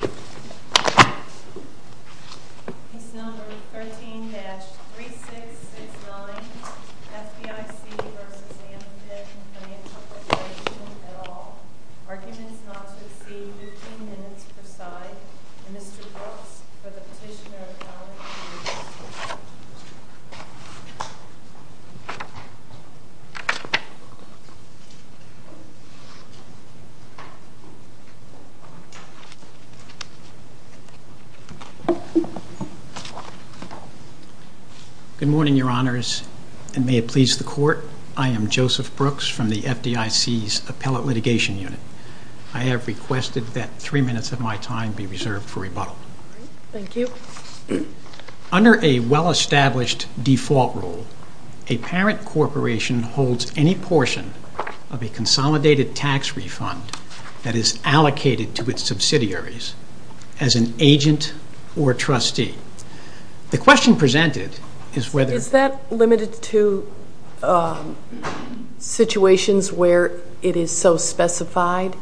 at all. Arguments not to exceed 15 minutes per side. Mr. Brooks, for the petitioner of the FDIC's Appellate Litigation Unit, I have requested that three minutes of my time be reserved for rebuttal. Thank you. Under a well-established default rule, a parent corporation holds any portion of a consolidated tax refund that is allocated to its subsidiaries, as an agent or trustee. The question presented is whether... Is that limited to situations where it is so specified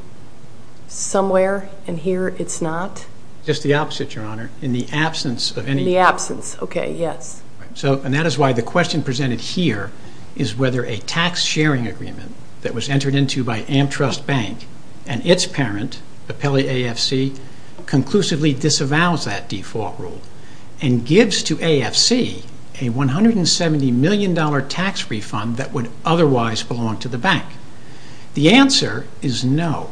somewhere and here it's not? Just the opposite, Your Honor. In the absence of any... In the absence, okay, yes. And that is why the question presented here is whether a tax sharing agreement that was entered into by AmTrust Bank and its parent, Appellate AFC, conclusively disavows that default rule and gives to AFC a $170 million tax refund that would otherwise belong to the bank. The answer is no,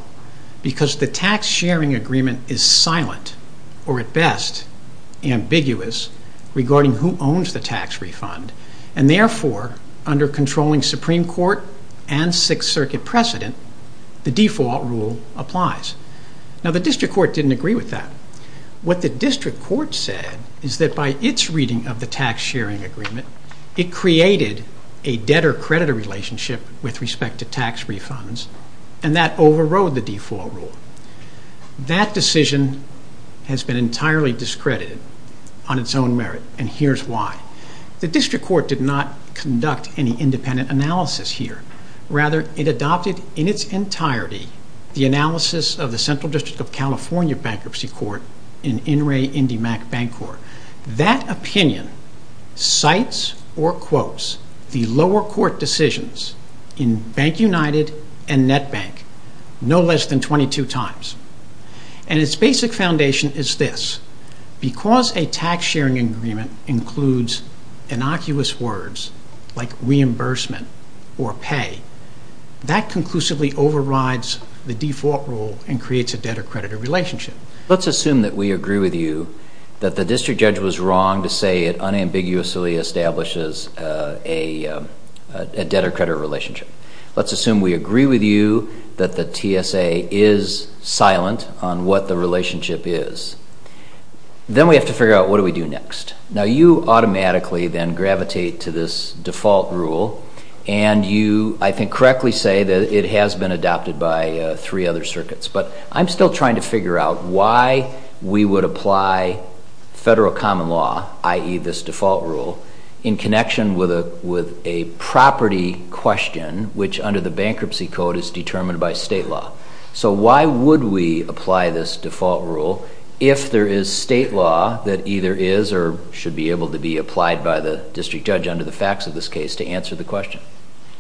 because the tax sharing agreement is silent, or at best, ambiguous regarding who owns the tax refund. And therefore, under controlling Supreme Court and Sixth Circuit precedent, the default rule applies. Now the District Court didn't agree with that. What the District Court said is that by its reading of the tax sharing agreement, it created a debtor-creditor relationship with respect to tax refunds, and that overrode the default rule. That decision has been entirely discredited on its own merit, and here's why. The District Court did not conduct any independent analysis here. Rather, it adopted in its entirety the analysis of the Central District of Bank United and NetBank no less than 22 times. And its basic foundation is this. Because a tax sharing agreement includes innocuous words like reimbursement or pay, that conclusively overrides the default rule and creates a debtor-creditor relationship. Let's assume that we agree with you that the TSA is silent on what the relationship is. Then we have to figure out, what do we do next? Now you automatically then gravitate to this default rule, and you, I think, correctly say that it has been adopted by three other circuits. But I'm still trying to figure out why we would apply federal common law, i.e. this default rule, in connection with a property question, which under the Bankruptcy Code is determined by state law. So why would we apply this default rule if there is state law that either is or should be able to be applied by the district judge under the facts of this case to answer the question?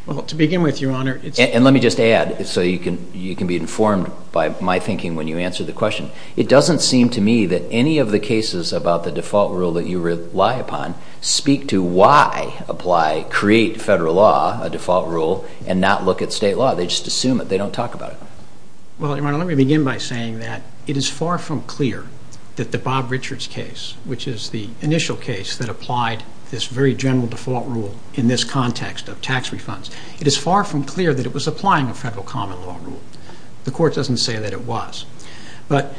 Well, to begin with, Your speak to why apply, create federal law, a default rule, and not look at state law. They just assume it. They don't talk about it. Well, Your Honor, let me begin by saying that it is far from clear that the Bob Richards case, which is the initial case that applied this very general default rule in this context of tax refunds, it is far from clear that it was applying a federal common law rule. The Court doesn't say that it was. But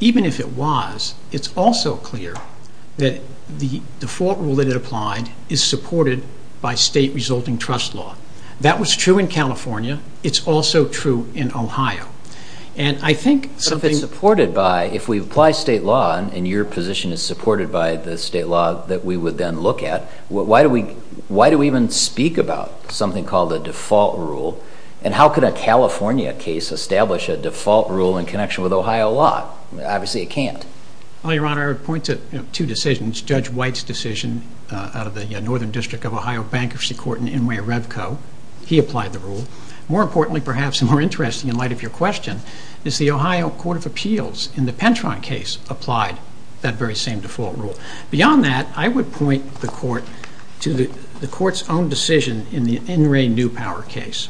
even if it was, it's also clear that the default rule that it applied is supported by state resulting trust law. That was true in California. It's also true in Ohio. And I think... But if it's supported by, if we apply state law, and Your position is supported by the then look at, why do we even speak about something called a default rule? And how could a California case establish a default rule in connection with Ohio law? Obviously it can't. Well, Your Honor, I would point to two decisions. Judge White's decision out of the Northern District of Ohio Bankruptcy Court in Inway Revco. He applied the rule. More importantly, perhaps, and more to the Court's own decision in the Inway New Power case.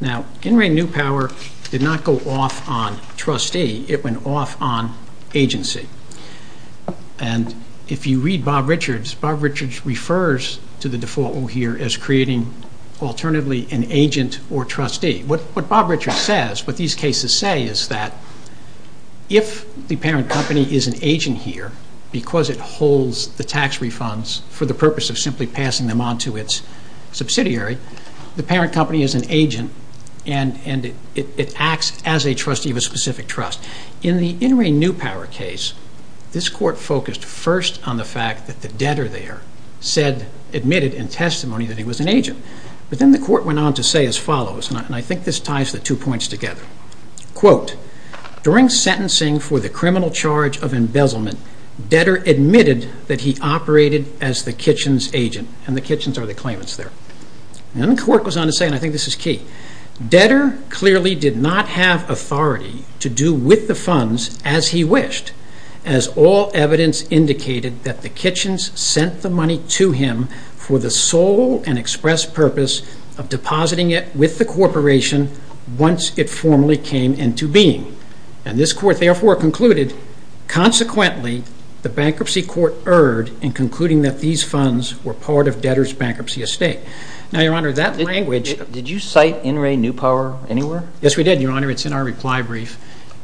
Now, Inway New Power did not go off on trustee. It went off on agency. And if you read Bob Richards, Bob Richards refers to the default rule here as creating an agent or trustee. What Bob Richards says, what these cases say is that if the parent company is an agent here, because it holds the tax refunds for the purpose of simply passing them on to its subsidiary, the parent company is an agent and it acts as a trustee of a specific trust. In the Inway New Power case, this Court focused first on the fact that the debtor there admitted in testimony that he was an agent. But then the Court went on to say as follows, and I think this ties the two points together. Quote, during sentencing for the criminal charge of embezzlement, debtor admitted that he operated as the kitchen's agent. And the kitchens are the claimants there. And then the Court goes on to say, and I think this is key, debtor clearly did not have authority to do with the funds as he wished, as all evidence indicated that the kitchens sent the money to him for the sole and express purpose of depositing it with the corporation once it formally became an agent. And this Court therefore concluded, consequently, the Bankruptcy Court erred in concluding that these funds were part of debtor's bankruptcy estate. Now, Your Honor, that language... Did you cite Inway New Power anywhere? Yes, we did, Your Honor. It's in our reply brief.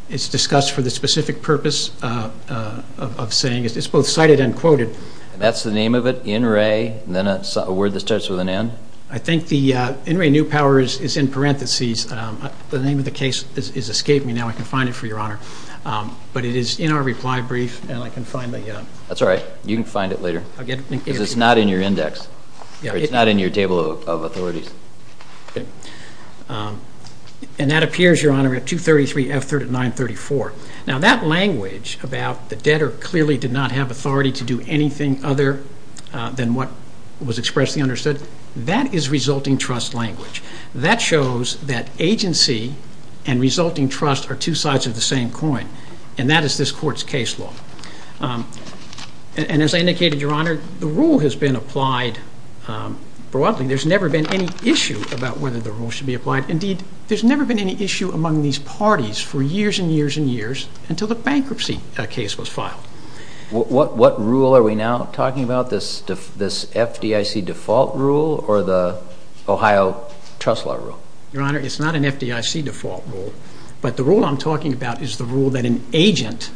It's discussed for the specific purpose of saying, it's both cited and quoted. That's the name of it, Inway, and then a word that starts with an N? I think the Inway New Power is in parentheses. The name of the case is escaping me now. I can find it for Your Honor. But it is in our reply brief, and I can find the... That's all right. You can find it later. I'll get it. Because it's not in your index. It's not in your table of authorities. And that appears, Your Honor, at 233 F3934. Now, that language about the debtor clearly did not have authority to do anything other than what was expressed and understood, that is resulting trust language. That shows that agency and resulting trust are two sides of the same coin, and that is this Court's case law. And as I indicated, Your Honor, the rule has been applied broadly. There's never been any issue about whether the rule should be applied. Indeed, there's never been any issue among these parties for years and years and years until the bankruptcy case was filed. What rule are we now talking about, this FDIC default rule or the Ohio trust law rule? Your Honor, it's not an FDIC default rule, but the rule I'm talking about is the rule that an agent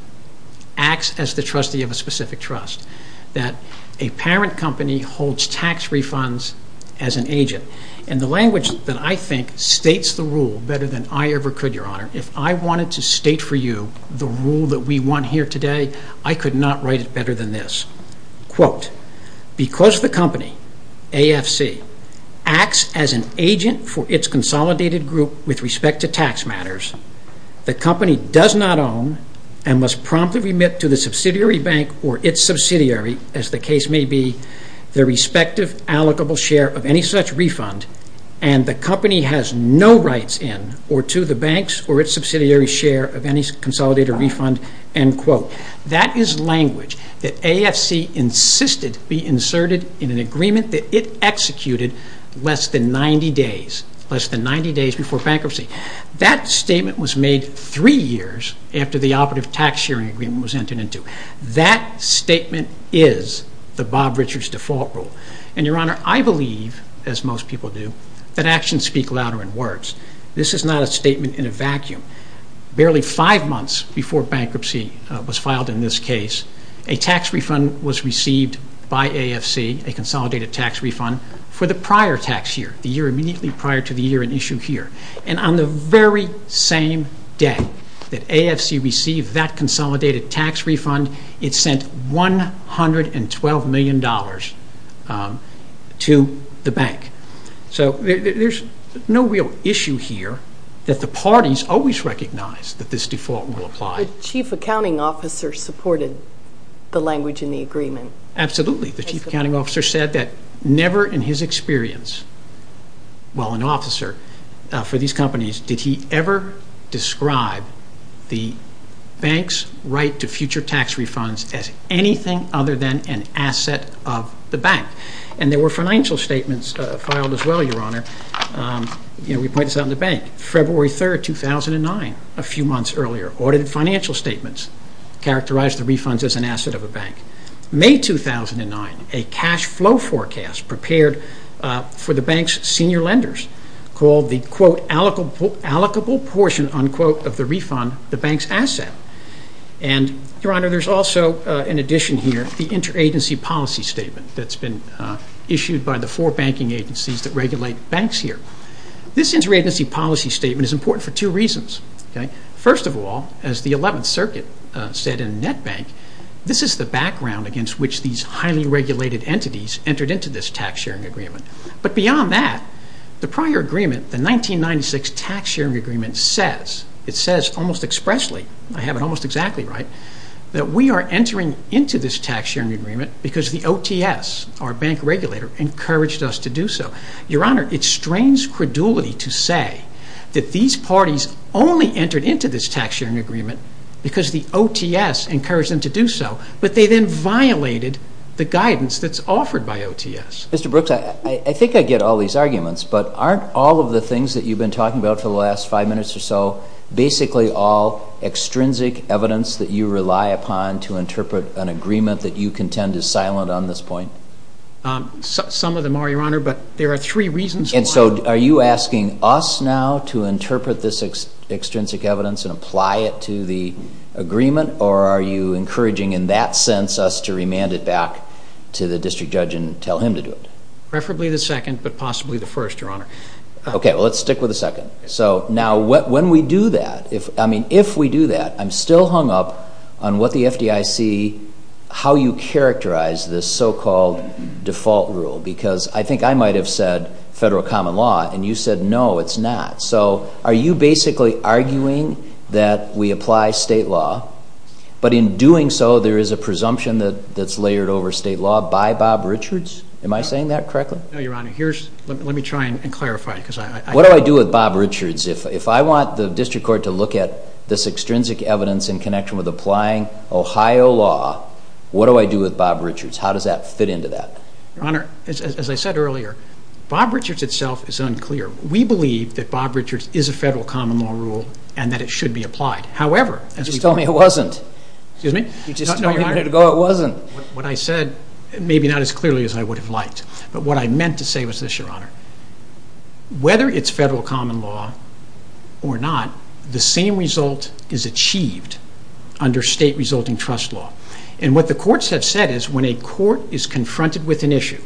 acts as the trustee of a specific trust, that a parent company holds tax refunds as an agent. And the language that I think states the rule better than I ever could, Your Honor, if I wanted to state for you the rule that we want here today, I could not write it better than this. Because the company, AFC, acts as an agent for its consolidated group with respect to tax matters, the company does not own and must promptly remit to the subsidiary bank or its subsidiary, as the case may be, their respective allocable share of any such refund, and the company has no rights in or to the bank's or its subsidiary's share of any consolidated refund. That is language that AFC insisted be inserted in an agreement that it executed less than 90 days, less than 90 days before bankruptcy. That statement was made three years after the operative tax sharing agreement was entered into. That statement is the Bob Richards default rule. And, Your Honor, I believe, as most people do, that actions speak louder than words. This is not a statement in a vacuum. Barely five months before bankruptcy was filed in this case, a tax refund was received by AFC, a consolidated tax refund, for the prior tax year, the year immediately prior to the year in issue here. And on the very same day that AFC received that consolidated tax refund, it sent $112 million to the bank. So there's no real issue here that the parties always recognize that this default rule applied. But Chief Accounting Officer supported the language in the agreement. Absolutely. The Chief Accounting Officer said that never in his experience, while an officer for these companies, did he ever describe the bank's right to future tax refunds as anything other than an asset of the bank. And there were financial statements filed as well, Your Honor. We point this out in the bank. February 3, 2009, a few months earlier, audited financial statements characterized the refunds as an asset of a bank. May 2009, a cash flow forecast prepared for the bank's senior lenders called the, quote, allocable portion, unquote, of the refund the bank's asset. And, Your Honor, there's also, in addition here, the interagency policy statement that's been issued by the four banking agencies that regulate banks here. This interagency policy statement is important for two reasons. First of all, as the 11th Circuit said in NetBank, this is the background against which these highly regulated entities entered into this tax sharing agreement. But beyond that, the prior agreement, the 1996 tax sharing agreement, says, it says almost expressly, I have it almost exactly right, that we are entering into this tax sharing agreement because the OTS, our bank regulator, encouraged us to do so. Your Honor, it strains credulity to say that these parties only entered into this tax sharing agreement because the OTS encouraged them to do so, but they then violated the guidance that's offered by OTS. Mr. Brooks, I think I get all these arguments, but aren't all of the things that you've been talking about for the last five minutes or so basically all extrinsic evidence that you rely upon to interpret an agreement that you contend is silent on this point? Some of them are, Your Honor, but there are three reasons why. And so are you asking us now to interpret this extrinsic evidence and apply it to the agreement, or are you encouraging in that sense us to remand it back to the district judge and tell him to do it? Preferably the second, but possibly the first, Your Honor. Okay, well, let's stick with the second. So now when we do that, I mean, if we do that, I'm still hung up on what the FDIC, how you characterize this so-called default rule, because I think I might have said federal common law, and you said no, it's not. So are you basically arguing that we apply state law, but in doing so there is a presumption that's layered over state law by Bob Richards? Am I saying that correctly? No, Your Honor. Let me try and clarify it. What do I do with Bob Richards? If I want the district court to look at this extrinsic evidence in connection with applying Ohio law, what do I do with Bob Richards? How does that fit into that? Your Honor, as I said earlier, Bob Richards itself is unclear. We believe that Bob Richards is a federal common law rule and that it should be applied. However, as we've been told— You just told me it wasn't. Excuse me? You just told me a minute ago it wasn't. Maybe not as clearly as I would have liked, but what I meant to say was this, Your Honor. Whether it's federal common law or not, the same result is achieved under state resulting trust law. And what the courts have said is when a court is confronted with an issue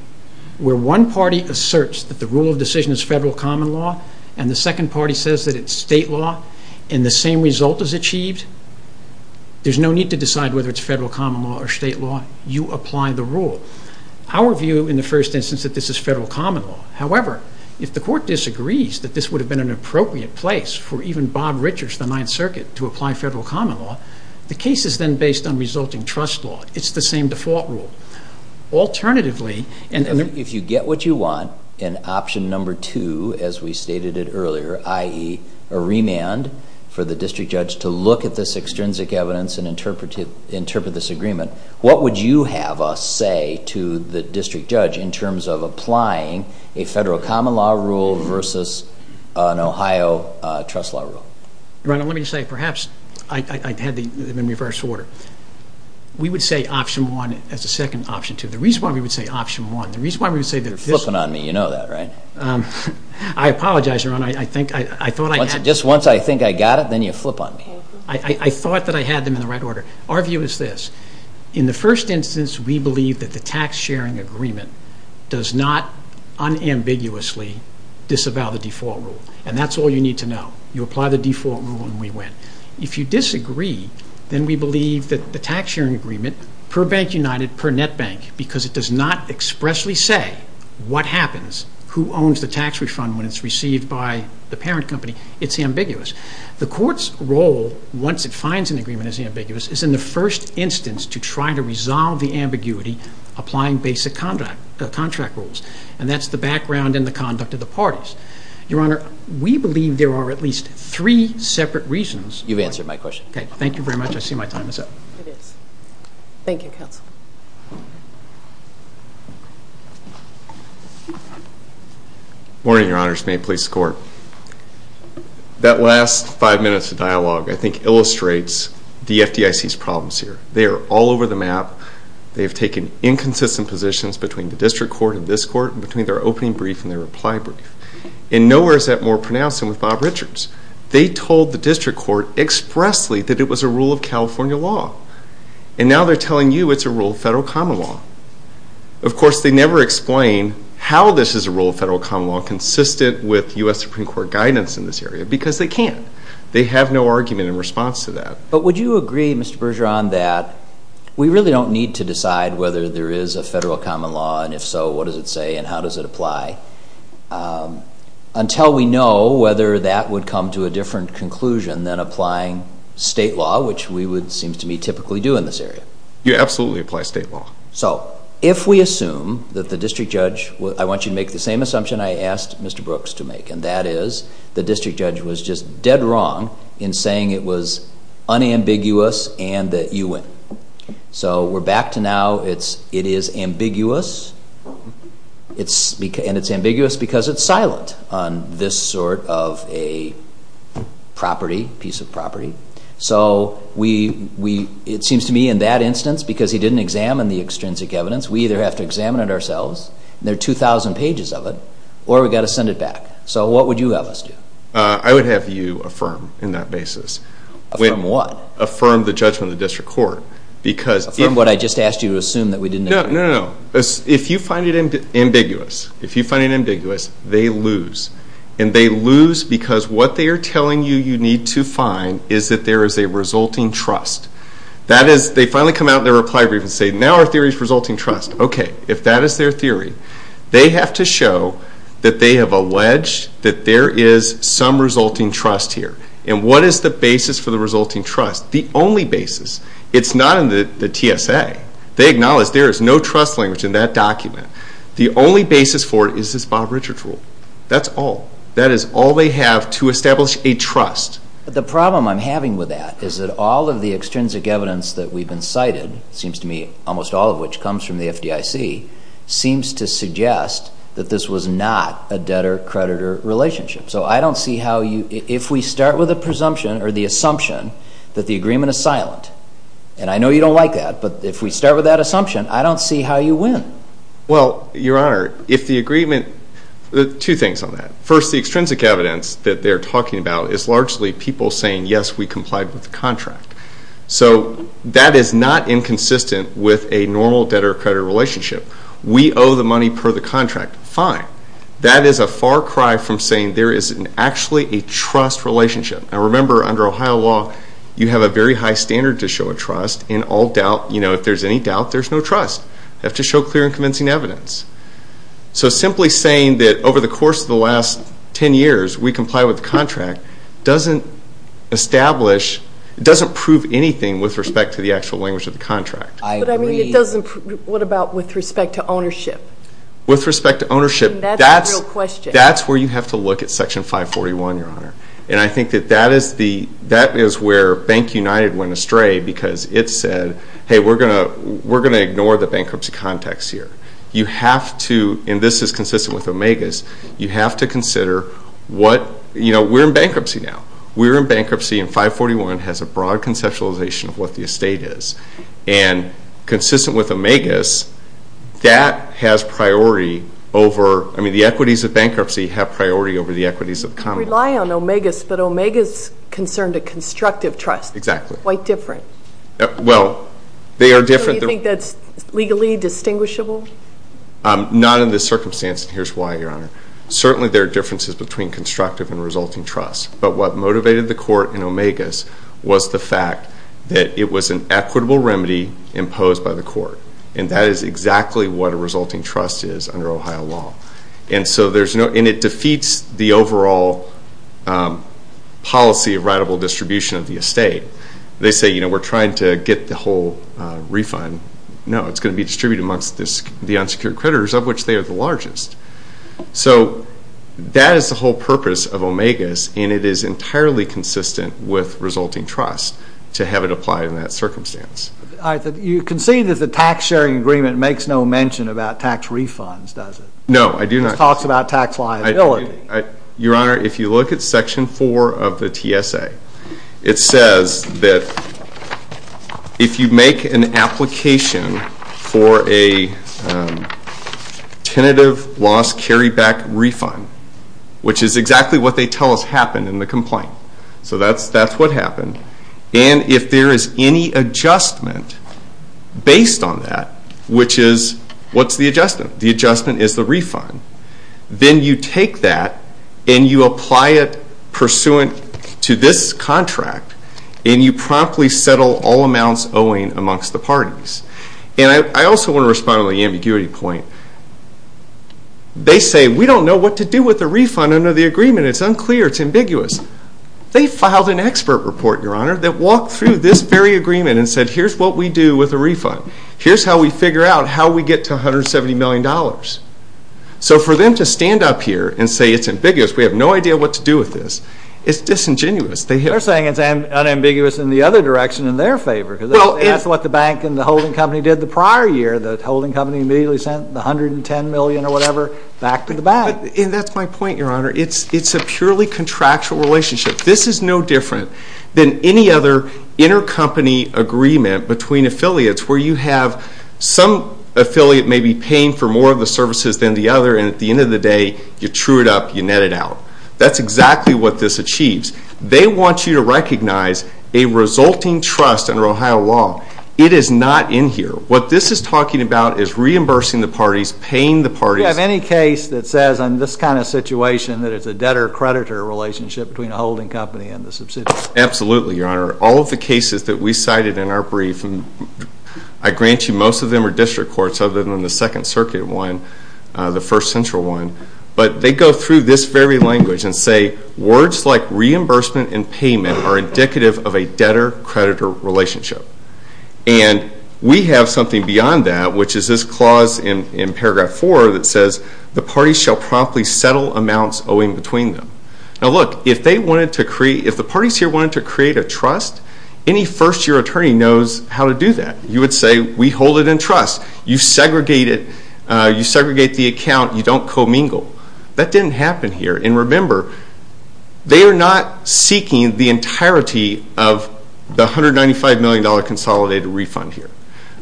where one party asserts that the rule of decision is federal common law and the second party says that it's state law and the same result is achieved, there's no need to decide whether it's federal common law or state law. You apply the rule. Our view in the first instance is that this is federal common law. However, if the court disagrees that this would have been an appropriate place for even Bob Richards, the Ninth Circuit, to apply federal common law, the case is then based on resulting trust law. It's the same default rule. Alternatively— If you get what you want in option number two, as we stated it earlier, i.e. a remand for the district judge to look at this extrinsic evidence and interpret this agreement, what would you have us say to the district judge in terms of applying a federal common law rule versus an Ohio trust law rule? Your Honor, let me just say, perhaps I had them in reverse order. We would say option one as a second option two. The reason why we would say option one— You're flipping on me. You know that, right? I apologize, Your Honor. Just once I think I got it, then you flip on me. I thought that I had them in the right order. Our view is this. In the first instance, we believe that the tax sharing agreement does not unambiguously disavow the default rule, and that's all you need to know. You apply the default rule and we win. If you disagree, then we believe that the tax sharing agreement, per Bank United, per Net Bank, because it does not expressly say what happens, who owns the tax refund when it's received by the parent company, it's ambiguous. The court's role, once it finds an agreement as ambiguous, is in the first instance to try to resolve the ambiguity applying basic contract rules, and that's the background and the conduct of the parties. Your Honor, we believe there are at least three separate reasons— You've answered my question. Okay. Thank you very much. I see my time is up. It is. Thank you, Counsel. Good morning, Your Honors. May it please the Court. That last five minutes of dialogue, I think, illustrates the FDIC's problems here. They are all over the map. They have taken inconsistent positions between the District Court and this Court, and between their opening brief and their reply brief. And nowhere is that more pronounced than with Bob Richards. They told the District Court expressly that it was a rule of California law. And now they're telling you it's a rule of federal common law. Of course, they never explain how this is a rule of federal common law consistent with U.S. Supreme Court guidance in this area, because they can't. They have no argument in response to that. But would you agree, Mr. Bergeron, that we really don't need to decide whether there is a federal common law, and if so, what does it say, and how does it apply, until we know whether that would come to a different conclusion than applying state law, which we would, it seems to me, typically do in this area? You absolutely apply state law. So, if we assume that the District Judge—I want you to make the same assumption I asked Mr. Brooks to make, and that is the District Judge was just dead wrong in saying it was unambiguous and that you win. So, we're back to now, it is ambiguous, and it's ambiguous because it's silent on this sort of a property, piece of property. So, it seems to me in that instance, because he didn't examine the extrinsic evidence, we either have to examine it ourselves, and there are 2,000 pages of it, or we've got to send it back. So, what would you have us do? I would have you affirm in that basis. Affirm what? Affirm the judgment of the District Court. Affirm what I just asked you to assume that we didn't agree. No, no, no. If you find it ambiguous, if you find it ambiguous, they lose. And they lose because what they are telling you you need to find is that there is a resulting trust. That is, they finally come out in their reply brief and say, now our theory is resulting trust. Okay, if that is their theory, they have to show that they have alleged that there is some resulting trust here. And what is the basis for the resulting trust? The only basis, it's not in the TSA. They acknowledge there is no trust language in that document. The only basis for it is this Bob Richards rule. That's all. That is all they have to establish a trust. The problem I'm having with that is that all of the extrinsic evidence that we've been cited, it seems to me almost all of which comes from the FDIC, seems to suggest that this was not a debtor-creditor relationship. So, I don't see how you, if we start with a presumption or the assumption that the agreement is silent, and I know you don't like that, but if we start with that assumption, I don't see how you win. Well, Your Honor, if the agreement, two things on that. First, the extrinsic evidence that they're talking about is largely people saying, yes, we complied with the contract. So, that is not inconsistent with a normal debtor-creditor relationship. We owe the money per the contract. Fine. That is a far cry from saying there is actually a trust relationship. Now, remember, under Ohio law, you have a very high standard to show a trust. In all doubt, you know, if there's any doubt, there's no trust. You have to show clear and convincing evidence. So, simply saying that over the course of the last ten years, we complied with the contract, doesn't establish, doesn't prove anything with respect to the actual language of the contract. I agree. But, I mean, it doesn't, what about with respect to ownership? With respect to ownership, that's where you have to look at Section 541, Your Honor. And I think that that is the, that is where Bank United went astray because it said, hey, we're going to ignore the bankruptcy context here. You have to, and this is consistent with OMEGA's, you have to consider what, you know, we're in bankruptcy now. We're in bankruptcy and 541 has a broad conceptualization of what the estate is. And consistent with OMEGA's, that has priority over, I mean, the equities of bankruptcy have priority over the equities of the commonwealth. You rely on OMEGA's, but OMEGA's concerned a constructive trust. Exactly. Quite different. Well, they are different. So you think that's legally distinguishable? Not in this circumstance, and here's why, Your Honor. Certainly there are differences between constructive and resulting trust. But what motivated the court in OMEGA's was the fact that it was an equitable remedy imposed by the court. And that is exactly what a resulting trust is under Ohio law. And so there's no, and it defeats the overall policy of writable distribution of the estate. They say, you know, we're trying to get the whole refund. No, it's going to be distributed amongst the unsecured creditors, of which they are the largest. So that is the whole purpose of OMEGA's, and it is entirely consistent with resulting trust to have it apply in that circumstance. You concede that the tax sharing agreement makes no mention about tax refunds, does it? No, I do not. It talks about tax liability. Your Honor, if you look at Section 4 of the TSA, it says that if you make an application for a tentative loss carryback refund, which is exactly what they tell us happened in the complaint, so that's what happened, and if there is any adjustment based on that, which is, what's the adjustment? The adjustment is the refund. Then you take that and you apply it pursuant to this contract, and you promptly settle all amounts owing amongst the parties. And I also want to respond to the ambiguity point. They say, we don't know what to do with the refund under the agreement. It's unclear. It's ambiguous. They filed an expert report, Your Honor, that walked through this very agreement and said, here's what we do with the refund. Here's how we figure out how we get to $170 million. So for them to stand up here and say it's ambiguous, we have no idea what to do with this, it's disingenuous. They're saying it's unambiguous in the other direction in their favor. That's what the bank and the holding company did the prior year. The holding company immediately sent the $110 million or whatever back to the bank. And that's my point, Your Honor. It's a purely contractual relationship. This is no different than any other intercompany agreement between affiliates where you have some affiliate maybe paying for more of the services than the other, and at the end of the day, you true it up, you net it out. That's exactly what this achieves. They want you to recognize a resulting trust under Ohio law. It is not in here. What this is talking about is reimbursing the parties, paying the parties. Do you have any case that says in this kind of situation that it's a debtor-creditor relationship between a holding company and the subsidiary? Absolutely, Your Honor. All of the cases that we cited in our brief, I grant you most of them are district courts other than the Second Circuit one, the first central one. But they go through this very language and say words like reimbursement and payment are indicative of a debtor-creditor relationship. And we have something beyond that, which is this clause in Paragraph 4 that says the parties shall promptly settle amounts owing between them. Now look, if the parties here wanted to create a trust, any first-year attorney knows how to do that. You would say we hold it in trust. You segregate the account. You don't commingle. That didn't happen here. And remember, they are not seeking the entirety of the $195 million consolidated refund here.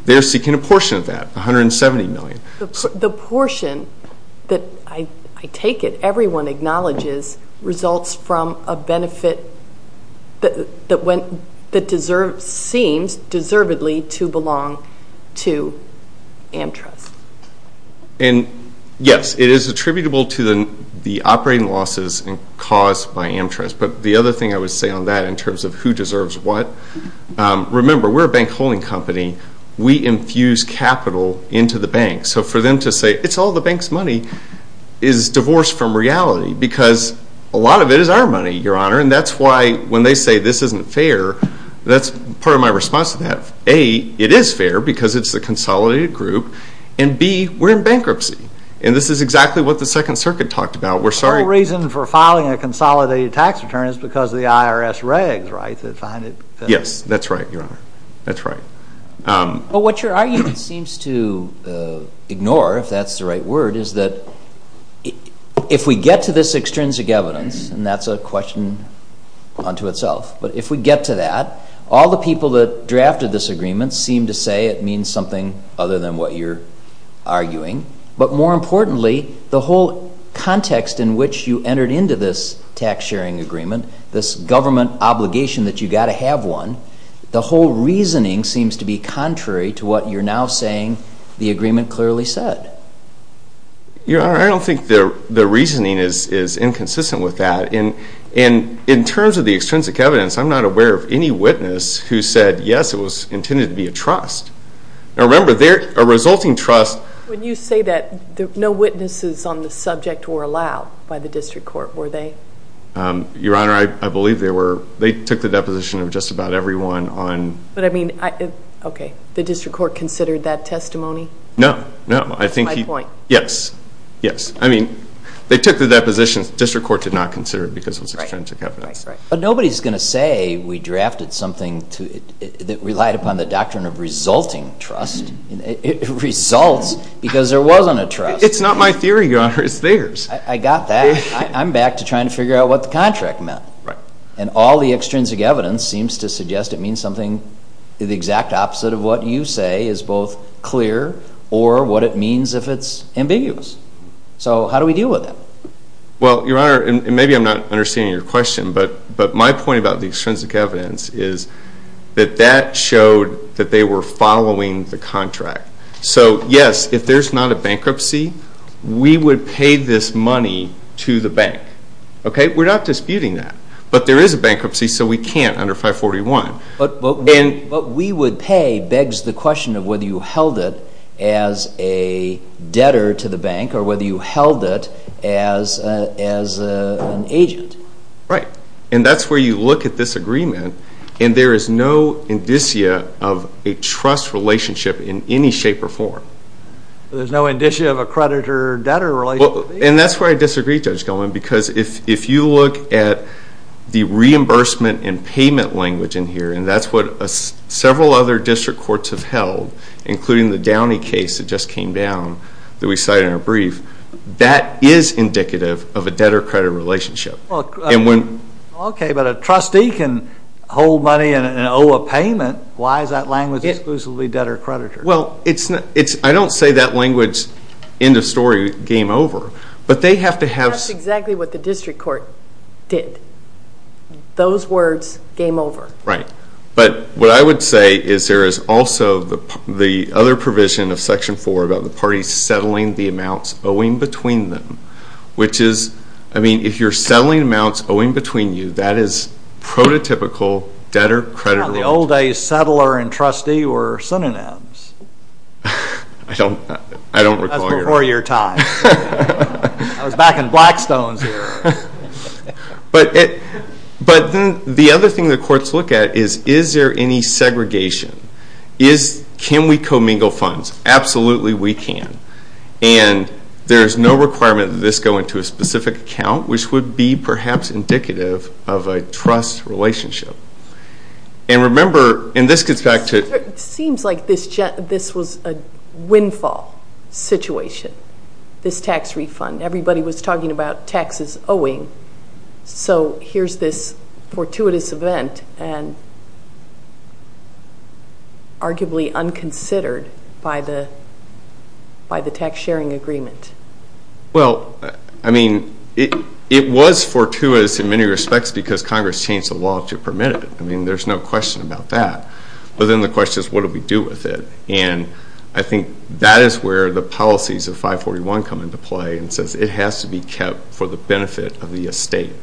They are seeking a portion of that, $170 million. The portion that I take it everyone acknowledges results from a benefit that seems deservedly to belong to AmTrust. And yes, it is attributable to the operating losses caused by AmTrust. But the other thing I would say on that in terms of who deserves what, remember, we're a bank holding company. We infuse capital into the bank. So for them to say it's all the bank's money is divorced from reality because a lot of it is our money, Your Honor. And that's why when they say this isn't fair, that's part of my response to that. A, it is fair because it's a consolidated group. And B, we're in bankruptcy. And this is exactly what the Second Circuit talked about. We're sorry. The whole reason for filing a consolidated tax return is because of the IRS regs, right? Yes, that's right, Your Honor. That's right. Well, what your argument seems to ignore, if that's the right word, is that if we get to this extrinsic evidence, and that's a question unto itself, but if we get to that, all the people that drafted this agreement seem to say it means something other than what you're arguing. But more importantly, the whole context in which you entered into this tax sharing agreement, this government obligation that you've got to have one, the whole reasoning seems to be contrary to what you're now saying the agreement clearly said. Your Honor, I don't think the reasoning is inconsistent with that. And in terms of the extrinsic evidence, I'm not aware of any witness who said, yes, it was intended to be a trust. Now, remember, a resulting trust. When you say that no witnesses on the subject were allowed by the district court, were they? Your Honor, I believe they were. They took the deposition of just about everyone on. But, I mean, okay, the district court considered that testimony? No, no. That's my point. Yes, yes. I mean, they took the deposition. District court did not consider it because it was extrinsic evidence. Right, right, right. But nobody's going to say we drafted something that relied upon the doctrine of resulting trust. It results because there wasn't a trust. It's not my theory, Your Honor. It's theirs. I got that. I'm back to trying to figure out what the contract meant. Right. And all the extrinsic evidence seems to suggest it means something the exact opposite of what you say is both clear or what it means if it's ambiguous. So how do we deal with that? Well, Your Honor, and maybe I'm not understanding your question, but my point about the extrinsic evidence is that that showed that they were following the contract. So, yes, if there's not a bankruptcy, we would pay this money to the bank. Okay? We're not disputing that. But there is a bankruptcy, so we can't under 541. What we would pay begs the question of whether you held it as a debtor to the bank or whether you held it as an agent. Right. And that's where you look at this agreement, and there is no indicia of a trust relationship in any shape or form. There's no indicia of a creditor-debtor relationship? And that's where I disagree, Judge Goldman, because if you look at the reimbursement and payment language in here, and that's what several other district courts have held, including the Downey case that just came down that we cited in our brief, that is indicative of a debtor-creditor relationship. Okay, but a trustee can hold money and owe a payment. Why is that language exclusively debtor-creditor? Well, I don't say that language, end of story, game over. That's exactly what the district court did. Those words, game over. Right. But what I would say is there is also the other provision of Section 4 about the parties settling the amounts owing between them, which is, I mean, if you're settling amounts owing between you, that is prototypical debtor-creditor relationship. The old days settler and trustee were synonyms. I don't recall. That's before your time. I was back in Blackstones here. But the other thing the courts look at is, is there any segregation? Can we commingle funds? Absolutely we can. And there is no requirement that this go into a specific account, which would be perhaps indicative of a trust relationship. And remember, and this gets back to- It seems like this was a windfall situation, this tax refund. Everybody was talking about taxes owing. So here's this fortuitous event and arguably unconsidered by the tax-sharing agreement. Well, I mean, it was fortuitous in many respects because Congress changed the law to permit it. I mean, there's no question about that. But then the question is, what do we do with it? And I think that is where the policies of 541 come into play and says it has to be kept for the benefit of the estate.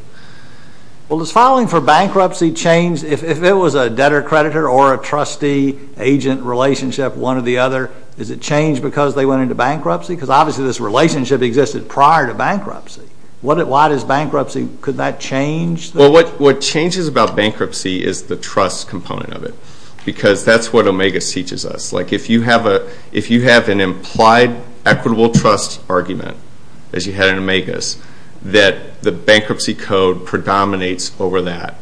Well, does filing for bankruptcy change, if it was a debtor-creditor or a trustee-agent relationship, one or the other, does it change because they went into bankruptcy? Because obviously this relationship existed prior to bankruptcy. Why does bankruptcy-could that change? Well, what changes about bankruptcy is the trust component of it because that's what OMEGAS teaches us. Like if you have an implied equitable trust argument, as you had in OMEGAS, that the bankruptcy code predominates over that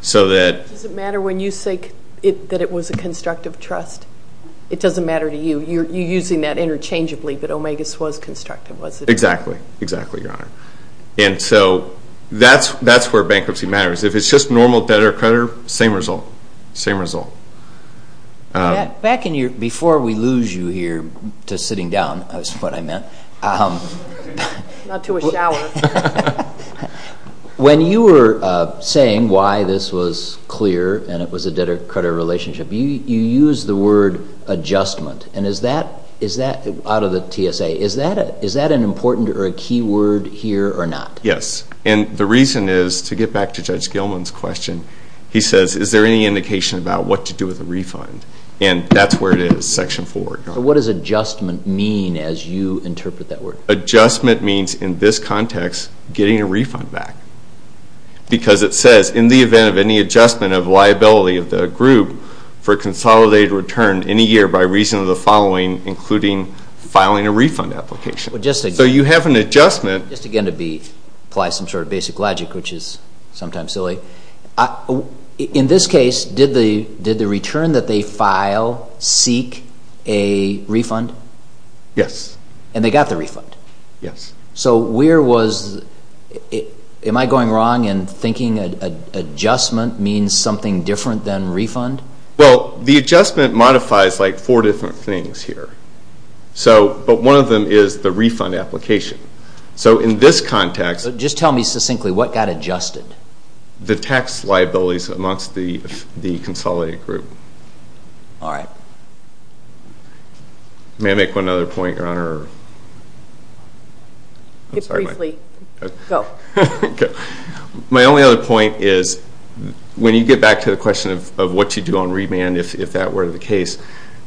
so that- Does it matter when you say that it was a constructive trust? It doesn't matter to you. You're using that interchangeably, but OMEGAS was constructive, wasn't it? Exactly, exactly, Your Honor. And so that's where bankruptcy matters. If it's just normal debtor-creditor, same result, same result. Back in your-before we lose you here to sitting down, that's what I meant. Not to a shower. When you were saying why this was clear and it was a debtor-creditor relationship, you used the word adjustment. And is that-out of the TSA-is that an important or a key word here or not? Yes. And the reason is, to get back to Judge Gilman's question, he says is there any indication about what to do with the refund? And that's where it is, section 4. What does adjustment mean as you interpret that word? Adjustment means in this context getting a refund back because it says in the event of any adjustment of liability of the group for a consolidated return any year by reason of the following, including filing a refund application. So you have an adjustment. Just again to be-apply some sort of basic logic, which is sometimes silly. In this case, did the return that they file seek a refund? Yes. And they got the refund? Yes. So where was-am I going wrong in thinking adjustment means something different than refund? Well, the adjustment modifies like four different things here. So-but one of them is the refund application. So in this context- Just tell me succinctly what got adjusted. The tax liabilities amongst the consolidated group. All right. May I make one other point, Your Honor? Briefly. Go. My only other point is when you get back to the question of what you do on remand, if that were the case,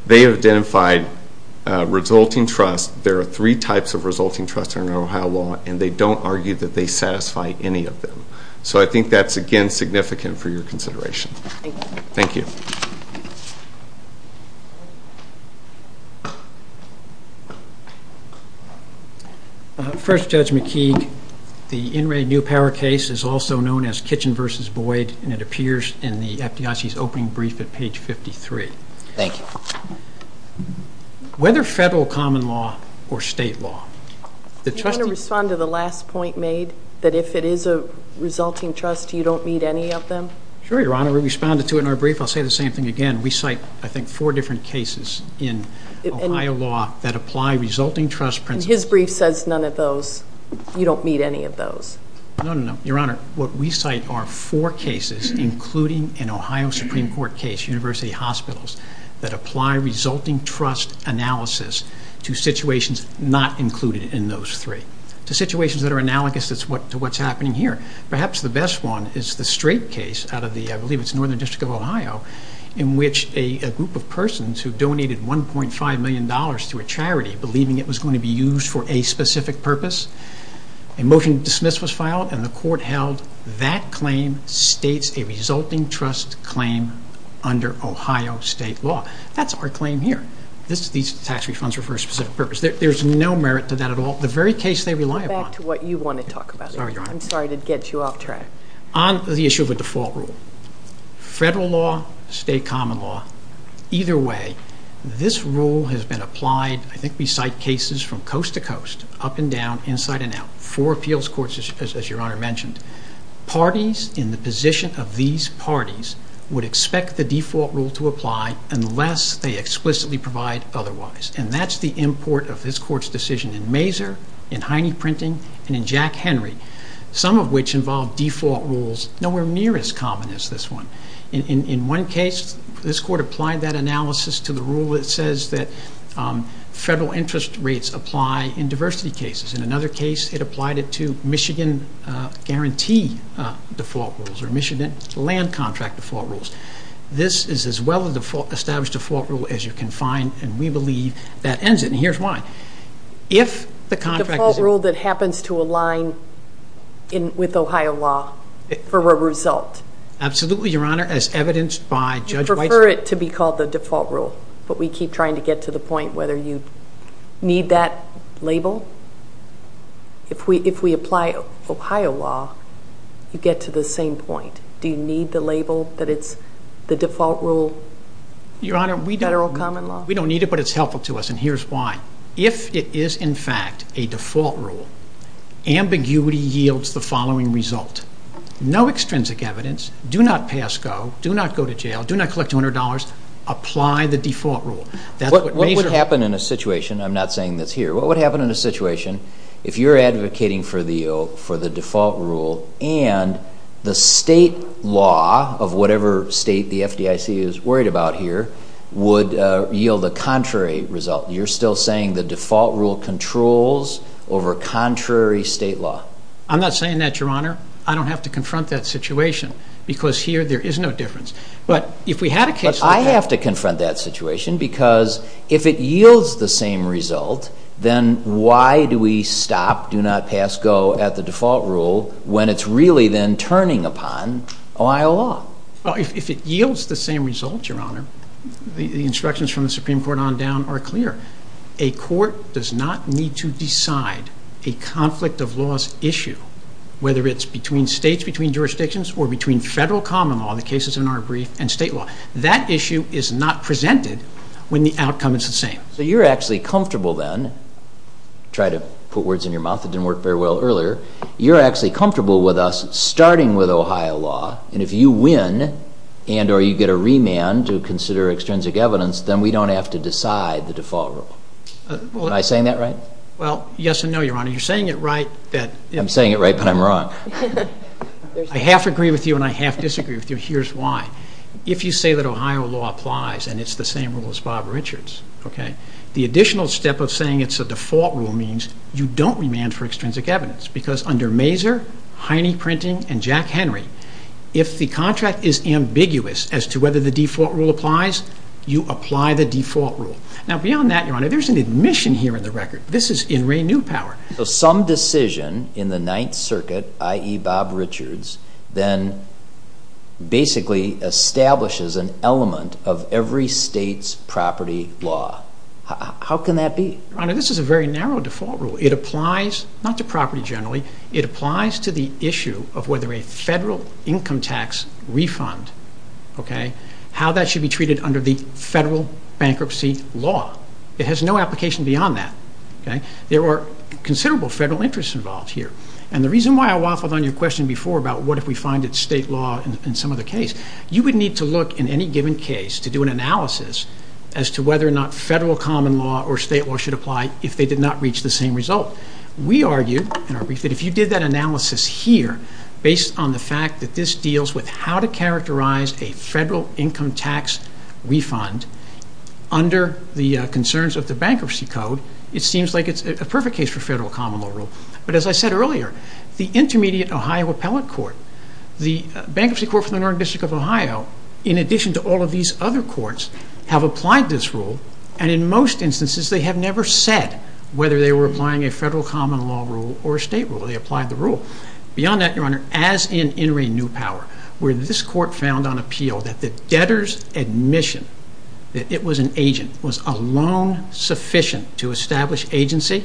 they have identified resulting trust. There are three types of resulting trust under Ohio law, and they don't argue that they satisfy any of them. So I think that's, again, significant for your consideration. Thank you. First, Judge McKee, the In Re New Power case is also known as Kitchen v. Boyd, and it appears in the FDIC's opening brief at page 53. Thank you. Whether federal common law or state law, the trustee- Do you want to respond to the last point made, that if it is a resulting trust, you don't meet any of them? Sure, Your Honor. We responded to it in our brief. I'll say the same thing again. We cite, I think, four different cases in Ohio law that apply resulting trust principles. His brief says none of those. You don't meet any of those. No, no, no. Your Honor, what we cite are four cases, including an Ohio Supreme Court case, University Hospitals, that apply resulting trust analysis to situations not included in those three, to situations that are analogous to what's happening here. Perhaps the best one is the Strait case out of the, I believe it's Northern District of Ohio, in which a group of persons who donated $1.5 million to a charity, believing it was going to be used for a specific purpose, a motion to dismiss was filed, and the court held that claim states a resulting trust claim under Ohio state law. That's our claim here. These tax refunds are for a specific purpose. There's no merit to that at all. The very case they rely upon- Go back to what you want to talk about. I'm sorry, Your Honor. I'm sorry to get you off track. On the issue of a default rule, federal law, state common law, either way, this rule has been applied. I think we cite cases from coast to coast, up and down, inside and out, for appeals courts, as Your Honor mentioned. Parties in the position of these parties would expect the default rule to apply unless they explicitly provide otherwise, and that's the import of this court's decision in Mazur, in Heine Printing, and in Jack Henry, some of which involve default rules nowhere near as common as this one. In one case, this court applied that analysis to the rule that says that federal interest rates apply in diversity cases. In another case, it applied it to Michigan guarantee default rules or Michigan land contract default rules. This is as well an established default rule as you can find, and we believe that ends it, and here's why. The default rule that happens to align with Ohio law for a result. Absolutely, Your Honor. As evidenced by Judge Weitzman. You prefer it to be called the default rule, but we keep trying to get to the point whether you need that label. If we apply Ohio law, you get to the same point. Do you need the label that it's the default rule, federal common law? Your Honor, we don't need it, but it's helpful to us, and here's why. If it is, in fact, a default rule, ambiguity yields the following result. No extrinsic evidence. Do not pass go. Do not go to jail. Do not collect $200. Apply the default rule. What would happen in a situation, I'm not saying this here, what would happen in a situation if you're advocating for the default rule and the state law of whatever state the FDIC is worried about here would yield the contrary result? You're still saying the default rule controls over contrary state law. I'm not saying that, Your Honor. I don't have to confront that situation because here there is no difference. But if we had a case like that. But I have to confront that situation because if it yields the same result, then why do we stop do not pass go at the default rule when it's really then turning upon Ohio law? If it yields the same result, Your Honor, the instructions from the Supreme Court on down are clear. A court does not need to decide a conflict of laws issue, whether it's between states, between jurisdictions, or between federal common law, the cases in our brief, and state law. That issue is not presented when the outcome is the same. So you're actually comfortable then, try to put words in your mouth that didn't work very well earlier, you're actually comfortable with us starting with Ohio law, and if you win and or you get a remand to consider extrinsic evidence, then we don't have to decide the default rule. Am I saying that right? Well, yes and no, Your Honor. You're saying it right. I'm saying it right, but I'm wrong. I half agree with you and I half disagree with you. Here's why. If you say that Ohio law applies and it's the same rule as Bob Richards, the additional step of saying it's a default rule means you don't remand for extrinsic evidence because under Mazur, Heine Printing, and Jack Henry, if the contract is ambiguous as to whether the default rule applies, you apply the default rule. Now beyond that, Your Honor, there's an admission here in the record. This is in Ray Newpower. Some decision in the Ninth Circuit, i.e. Bob Richards, then basically establishes an element of every state's property law. How can that be? Your Honor, this is a very narrow default rule. It applies not to property generally. It applies to the issue of whether a federal income tax refund, okay, how that should be treated under the federal bankruptcy law. It has no application beyond that. There are considerable federal interests involved here. And the reason why I waffled on your question before about what if we find it state law in some other case, you would need to look in any given case to do an analysis as to whether or not federal common law or state law should apply if they did not reach the same result. We argue, in our brief, that if you did that analysis here, based on the fact that this deals with how to characterize a federal income tax refund under the concerns of the bankruptcy code, it seems like it's a perfect case for federal common law rule. But as I said earlier, the Intermediate Ohio Appellate Court, the Bankruptcy Court for the Northern District of Ohio, in addition to all of these other courts, have applied this rule, and in most instances they have never said whether they were applying a federal common law rule or a state rule. They applied the rule. Beyond that, Your Honor, as in In re New Power, where this court found on appeal that the debtor's admission that it was an agent was alone sufficient to establish agency,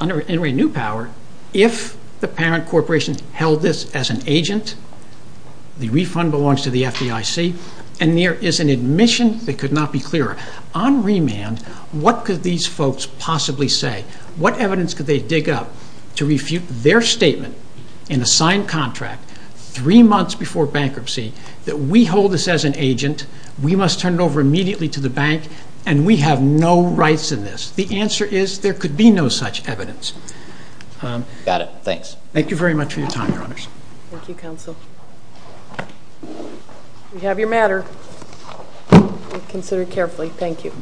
under In re New Power, if the parent corporation held this as an agent, the refund belongs to the FDIC, and there is an admission that could not be clearer. On remand, what could these folks possibly say? What evidence could they dig up to refute their statement in a signed contract three months before bankruptcy that we hold this as an agent, we must turn it over immediately to the bank, and we have no rights in this? The answer is there could be no such evidence. Got it. Thanks. Thank you very much for your time, Your Honors. Thank you, Counsel. We have your matter. Consider it carefully. Thank you.